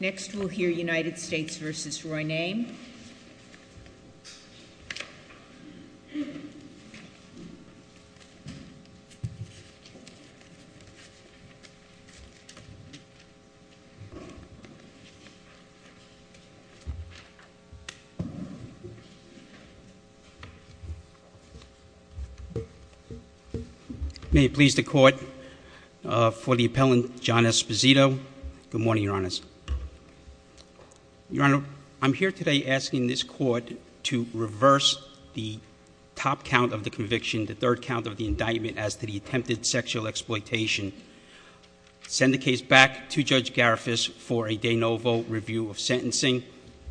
Next we'll hear United States v. Roy Nain. May it please the court, for the appellant John Esposito, good morning, your honors. Your honor, I'm here today asking this court to reverse the top count of the conviction, the third count of the indictment, as to the attempted sexual exploitation. Send the case back to Judge Garifas for a de novo review of sentencing.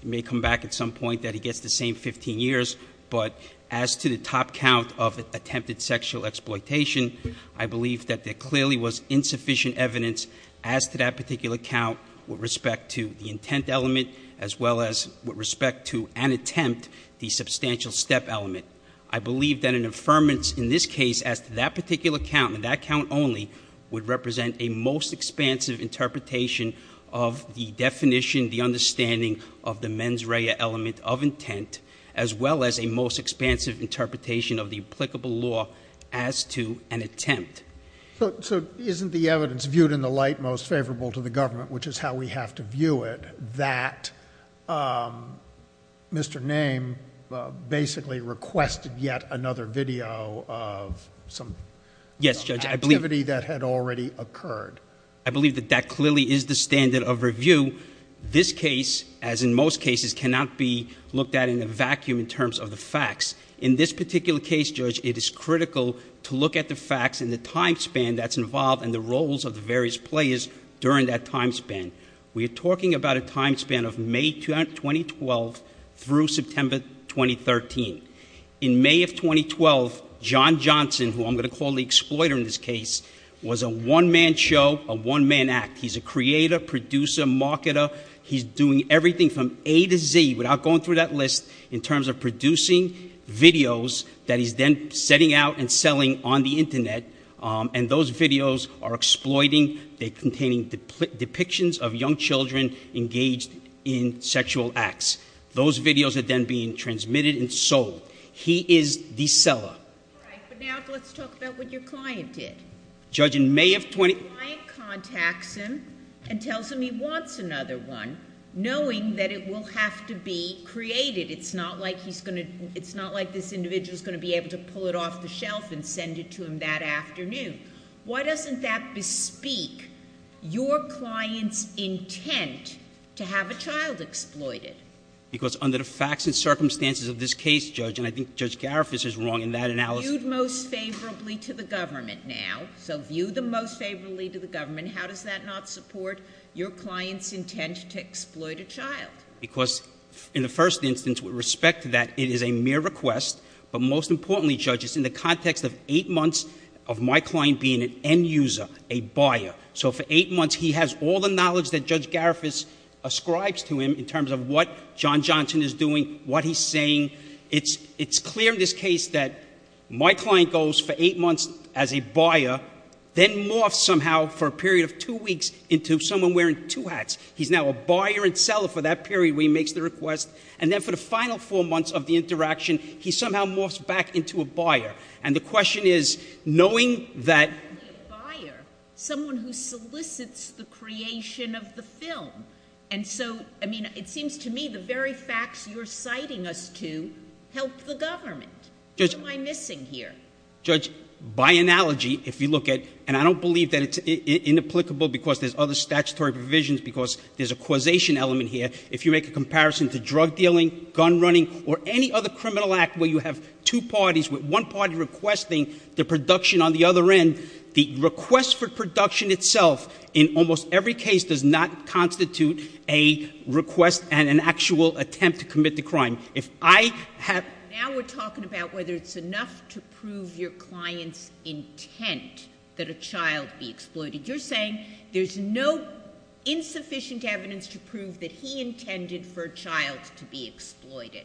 It may come back at some point that he gets the same 15 years, but as to the top count of attempted sexual exploitation, I believe that there clearly was insufficient evidence as to that particular count with respect to the intent element, as well as with respect to an attempt, the substantial step element. I believe that an affirmance in this case as to that particular count, and that count only, would represent a most expansive interpretation of the definition, the understanding of the mens rea element of intent, as well as a most expansive interpretation of the applicable law as to an attempt. So isn't the evidence viewed in the light most favorable to the government, which is how we have to view it, that Mr. Nain basically requested yet another video of some activity that had already occurred? I believe that that clearly is the standard of review. This case, as in most cases, cannot be looked at in a vacuum in terms of the facts. In this particular case, Judge, it is critical to look at the facts and the time span that's involved and the roles of the various players during that time span. We are talking about a time span of May 2012 through September 2013. In May of 2012, John Johnson, who I'm going to call the exploiter in this case, was a one-man show, a one-man act. He's a creator, producer, marketer. He's doing everything from A to Z, without going through that list, in terms of producing videos that he's then setting out and selling on the Internet. And those videos are exploiting, they're containing depictions of young children engaged in sexual acts. Those videos are then being transmitted and sold. He is the seller. All right, but now let's talk about what your client did. Judge, in May of 20- The client contacts him and tells him he wants another one, knowing that it will have to be created. It's not like he's going to, it's not like this individual is going to be able to pull it off the shelf and send it to him that afternoon. Why doesn't that bespeak your client's intent to have a child exploited? Because under the facts and circumstances of this case, Judge, and I think Judge Garifuss is wrong in that analysis- favorably to the government. How does that not support your client's intent to exploit a child? Because in the first instance, with respect to that, it is a mere request, but most importantly, Judge, it's in the context of eight months of my client being an end user, a buyer. So for eight months, he has all the knowledge that Judge Garifuss ascribes to him in terms of what John Johnson is doing, what he's saying. It's clear in this case that my client goes for eight months as a buyer, then morphs somehow for a period of two weeks into someone wearing two hats. He's now a buyer and seller for that period where he makes the request. And then for the final four months of the interaction, he somehow morphs back into a buyer. And the question is, knowing that- Not only a buyer, someone who solicits the creation of the film. And so, I mean, it seems to me the very facts you're citing us to help the government. What am I missing here? Judge, by analogy, if you look at- and I don't believe that it's inapplicable because there's other statutory provisions, because there's a causation element here. If you make a comparison to drug dealing, gun running, or any other criminal act where you have two parties with one party requesting the production on the other end, the request for production itself in almost every case does not constitute a request and an actual attempt to commit the crime. If I have- Now we're talking about whether it's enough to prove your client's intent that a child be exploited. You're saying there's no insufficient evidence to prove that he intended for a child to be exploited.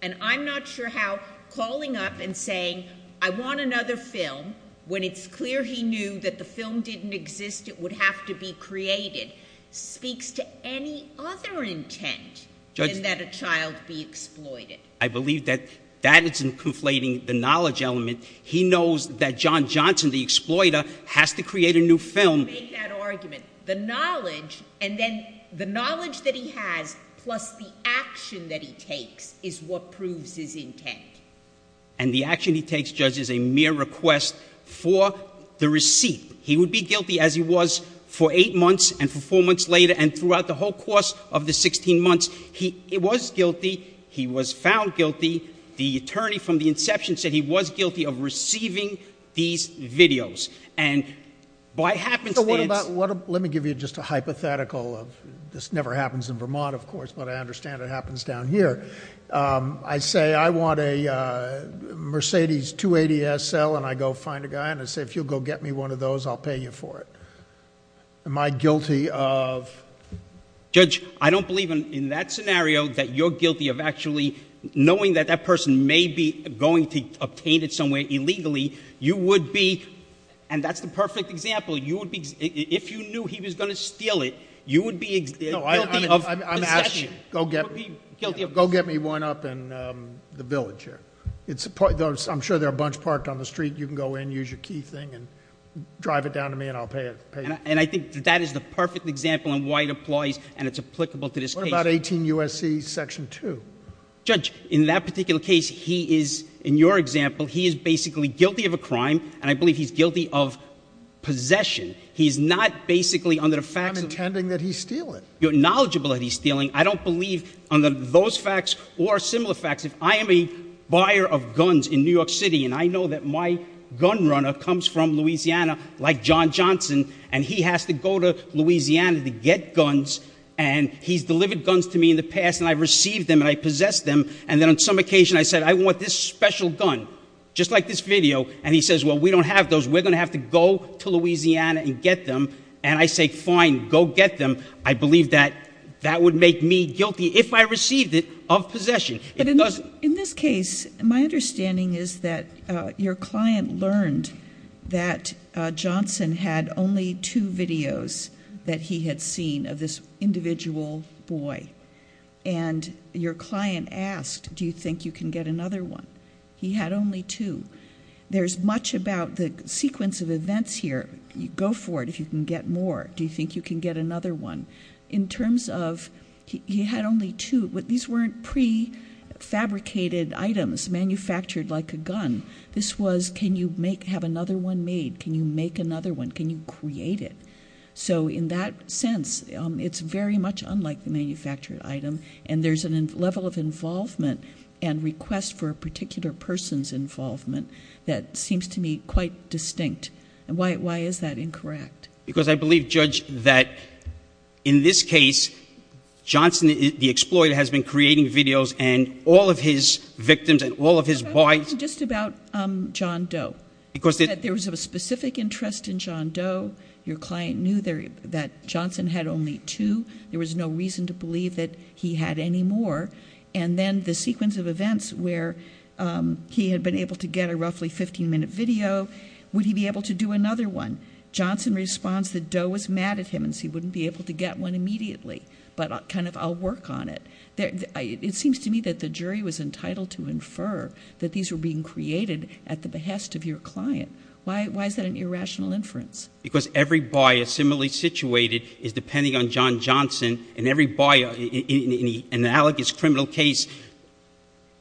And I'm not sure how calling up and saying, I want another film, when it's clear he knew that the film didn't exist, it would have to be created, speaks to any other intent than that a child be exploited. I believe that that isn't conflating the knowledge element. He knows that John Johnson, the exploiter, has to create a new film- Don't make that argument. The knowledge, and then the knowledge that he has plus the action that he takes is what proves his intent. And the action he takes, Judge, is a mere request for the receipt. He would be guilty as he was for eight months and for four months later and throughout the whole course of the 16 months. He was guilty. He was found guilty. The attorney from the inception said he was guilty of receiving these videos. And by happenstance- So what about, let me give you just a hypothetical of, this never happens in Vermont, of course, but I understand it happens down here. I say, I want a Mercedes 280 SL and I go find a guy and I say, if you'll go get me one of those, I'll pay you for it. Am I guilty of- Judge, I don't believe in that scenario that you're guilty of actually knowing that that person may be going to obtain it somewhere illegally. You would be, and that's the perfect example, you would be, if you knew he was going to steal it, you would be guilty of possession. Go get me one up in the village here. I'm sure there are a bunch parked on the street. You can go in, use your key thing and drive it down to me and I'll pay you. And I think that that is the perfect example on why it applies and it's applicable to this case. What about 18 U.S.C. Section 2? Judge, in that particular case he is, in your example, he is basically guilty of a crime and I believe he's guilty of possession. He's not basically under the facts of- I'm intending that he steal it. You're knowledgeable that he's stealing. I don't believe on those facts or similar facts. If I am a buyer of guns in New York City and I know that my gun runner comes from Louisiana like John Johnson and he has to go to Louisiana to get guns and he's delivered guns to me in the past and I've received them and I possess them and then on some occasion I said, I want this special gun, just like this video, and he says, well, we don't have those. We're going to have to go to Louisiana and get them. And I say, fine, go get them. I believe that that would make me guilty if I received it of possession. But in this case, my understanding is that your client learned that Johnson had only two videos that he had seen of this individual boy and your client asked, do you think you can get another one? He had only two. There's much about the sequence of events here. Go for it if you can get more. Do you think you can get another one? In terms of he had only two, these weren't prefabricated items manufactured like a gun. This was, can you have another one made? Can you make another one? Can you create it? So in that sense, it's very much unlike the manufactured item and there's a level of involvement and request for a particular person's involvement that seems to me quite distinct. Why is that incorrect? Because I believe, Judge, that in this case, Johnson, the exploiter, has been creating videos and all of his victims and all of his boys... But I'm talking just about John Doe, that there was a specific interest in John Doe. Your client knew that Johnson had only two. There was no reason to believe that he had any more. And then the sequence of events where he had been able to get a roughly 15-minute video, would he be able to do another one? Johnson responds that Doe was mad at him and he wouldn't be able to get one immediately. But kind of, I'll work on it. It seems to me that the jury was entitled to infer that these were being created at the behest of your client. Why is that an irrational inference? Because every buyer similarly situated is depending on John Johnson and every buyer in the analogous criminal case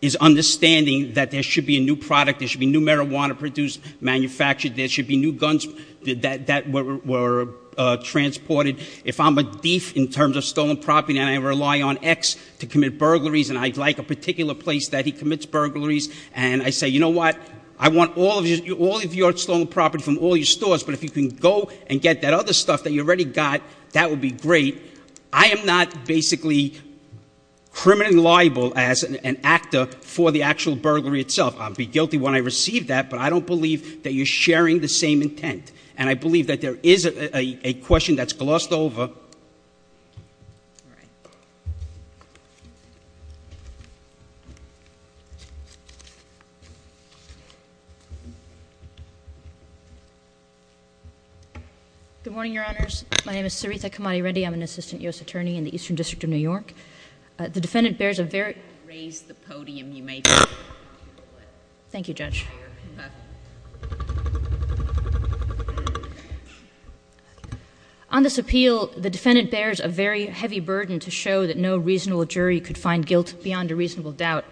is understanding that there should be a new product, there should be new guns that were transported. If I'm a thief in terms of stolen property and I rely on X to commit burglaries and I'd like a particular place that he commits burglaries, and I say, you know what? I want all of your stolen property from all your stores, but if you can go and get that other stuff that you already got, that would be great. I am not basically criminally liable as an actor for the actual burglary itself. I'll be guilty when I receive that, but I don't believe that you're sharing the same intent. And I believe that there is a question that's glossed over. All right. Good morning, Your Honors. My name is Sarita Kamadi-Reddy. I'm an assistant U.S. attorney in the Eastern District of New York. The defendant bears a very heavy burden to show that no reasonable jury could find guilt beyond a reasonable doubt.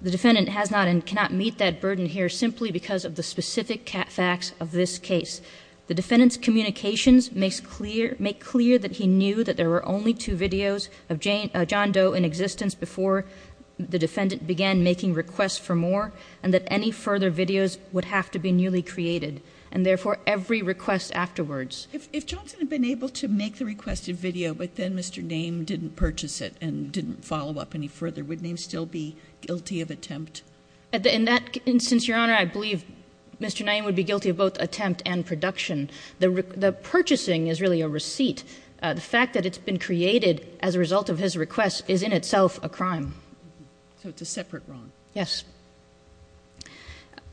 The defendant has not and cannot meet that burden here simply because of the specific facts of this case. The defendant's communications make clear that he knew that there were only two videos of John Doe in existence before the defendant began making requests for more, and that any further videos would have to be newly created, and therefore every request afterwards. If Johnson had been able to make the requested video, but then Mr. Naim didn't purchase it and didn't follow up any further, would Naim still be guilty of attempt? In that instance, Your Honor, I believe Mr. Naim would be guilty of both attempt and production. The purchasing is really a receipt. The fact that it's been created as a result of his request is in itself a crime. So it's a separate wrong? Yes.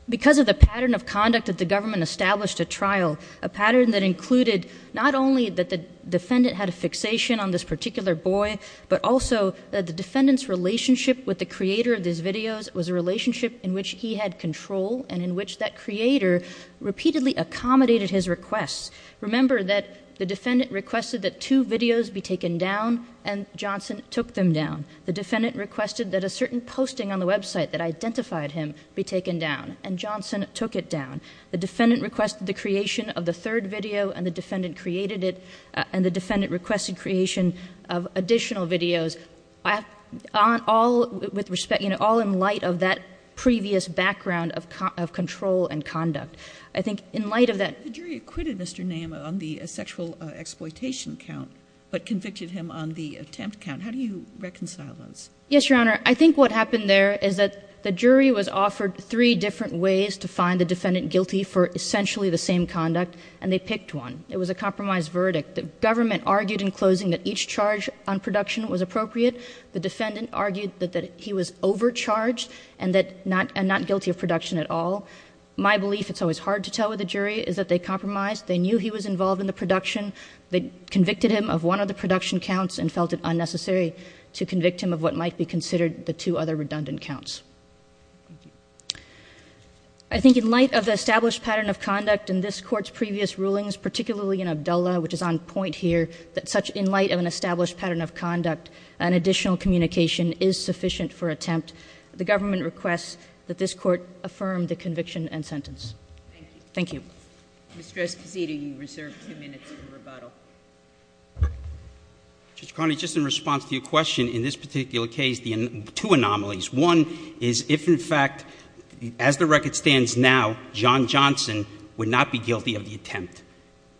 Because of the pattern of conduct that the government established at trial, a pattern that included not only that the defendant had a fixation on this particular boy, but also that the defendant's relationship with the creator of these videos was a relationship in which he had control and in which that creator repeatedly accommodated his requests. Remember that the defendant requested that two videos be taken down, and Johnson took them down. The defendant requested that a certain posting on the website that identified him be taken down, and Johnson took it down. The defendant requested the creation of the third video, and the defendant requested creation of additional videos, all in light of that previous background of control and conduct. I think in light of that- The jury acquitted Mr. Naim on the sexual exploitation count, but convicted him on the attempt count. How do you reconcile those? I think in light of the established pattern of conduct in this Court's previous rulings, particularly in Abdullah, which is on point here, that such in light of an established pattern of conduct, an additional communication is sufficient for attempt, the government requests that this Court affirm the conviction and sentence. Thank you. Mr. Escoceda, you reserve two minutes for rebuttal. Mr. Carney, just in response to your question, in this particular case, two anomalies. One is if in fact, as the record stands now, John Johnson would not be guilty of the attempt,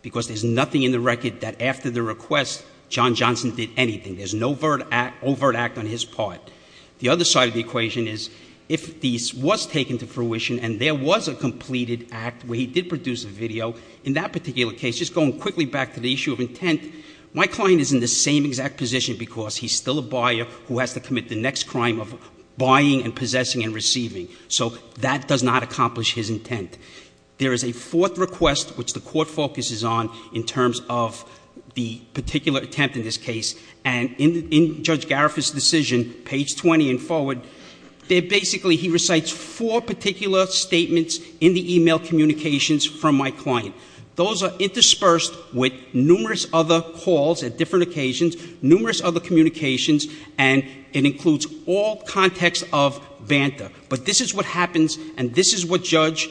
because there's nothing in the record that after the request, John Johnson did anything. There's no overt act on his part. The other side of the equation is if this was taken to fruition and there was a completed act where he did produce a video, in that particular case, just going quickly back to the issue of intent, my client is in the same exact position because he's still a buyer who has to commit the next crime of buying and possessing and receiving. So that does not accomplish his intent. There is a fourth request, which the Court focuses on, in terms of the particular attempt in this case, and in Judge Garifu's decision, page 20 and forward, there basically he recites four particular statements in the email communications from my client. Those are interspersed with numerous other calls at different occasions, numerous other communications, and it includes all context of banter. But this is what happens, and this is what judge,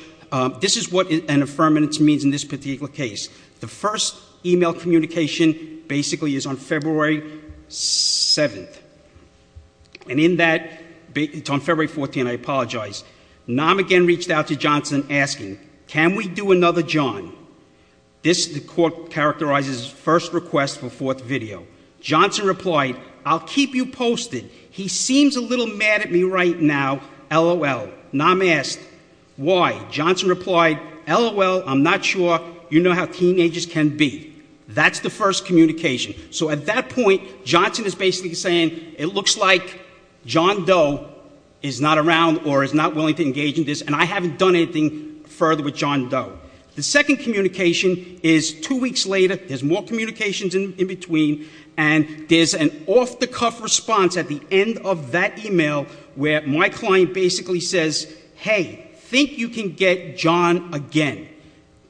this is what an affirmative means in this particular case. The first email communication basically is on February 7th. And in that, it's on February 14th, I apologize, Nam again reached out to Johnson asking, can we do another John? This, the Court characterizes first request for fourth video. Johnson replied, I'll keep you posted. He seems a little mad at me right now, lol. Nam asked, why? Johnson replied, lol, I'm not sure, you know how teenagers can be. That's the first communication. So at that point, Johnson is basically saying, it looks like John Doe is not around or is not willing to engage in this, and I haven't done anything further with John Doe. The second communication is two weeks later, there's more communications in between, and there's an off-the-cuff response at the end of that email where my client basically says, hey, think you can get John again.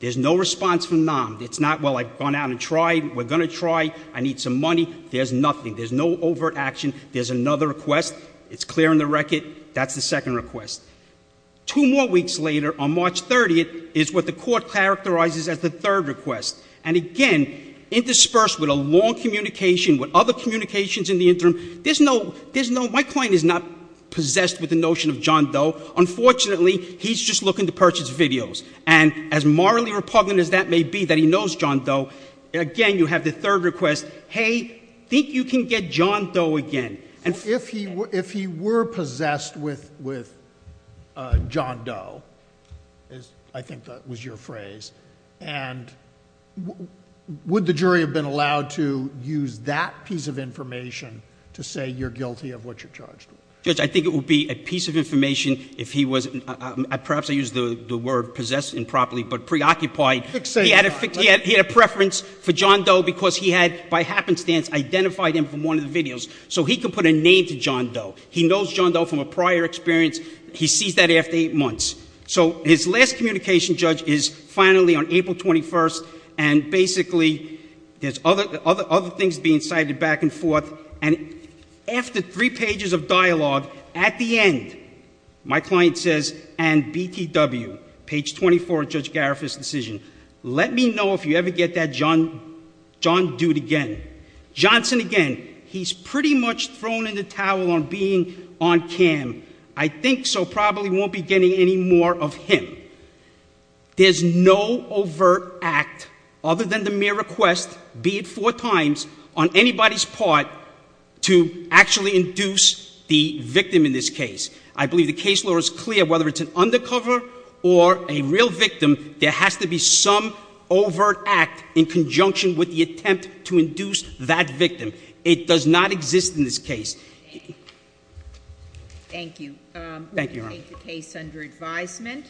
There's no response from Nam, it's not, well, I've gone out and tried, we're going to try, I need some money, there's nothing, there's no overt action, there's another request, it's clear in the record, that's the second request. Two more weeks later, on March 30th, is what the Court characterizes as the third request. And again, interspersed with a long communication, with other communications in the interim, there's no, my client is not possessed with the notion of John Doe, unfortunately, he's just looking to purchase videos. And as morally repugnant as that may be, that he knows John Doe, again, you have the third request, hey, think you can get John Doe again. And if he were possessed with John Doe, I think that was your phrase, and would the jury have been allowed to use that piece of information to say you're guilty of what you're charged with? Judge, I think it would be a piece of information if he was, perhaps I used the word possessed improperly, but preoccupied. He had a preference for John Doe because he had, by happenstance, identified him from one of the videos. So he could put a name to John Doe. He knows John Doe from a prior experience, he sees that after eight months. So his last communication, Judge, is finally on April 21st, and basically, there's other things being cited back and forth, and after three pages of dialogue, at the end, my client says, and BTW, page 24 of Judge Garifu's decision, let me know if you ever get that John Dude again. Johnson again, he's pretty much thrown in the towel on being on cam. I think so, probably won't be getting any more of him. There's no overt act other than the mere request, be it four times, on anybody's part to actually induce the victim in this case. I believe the case law is clear, whether it's an undercover or a real victim, there has to be some overt act in conjunction with the attempt to induce that victim. It does not exist in this case. Thank you. We'll take the case under advisement.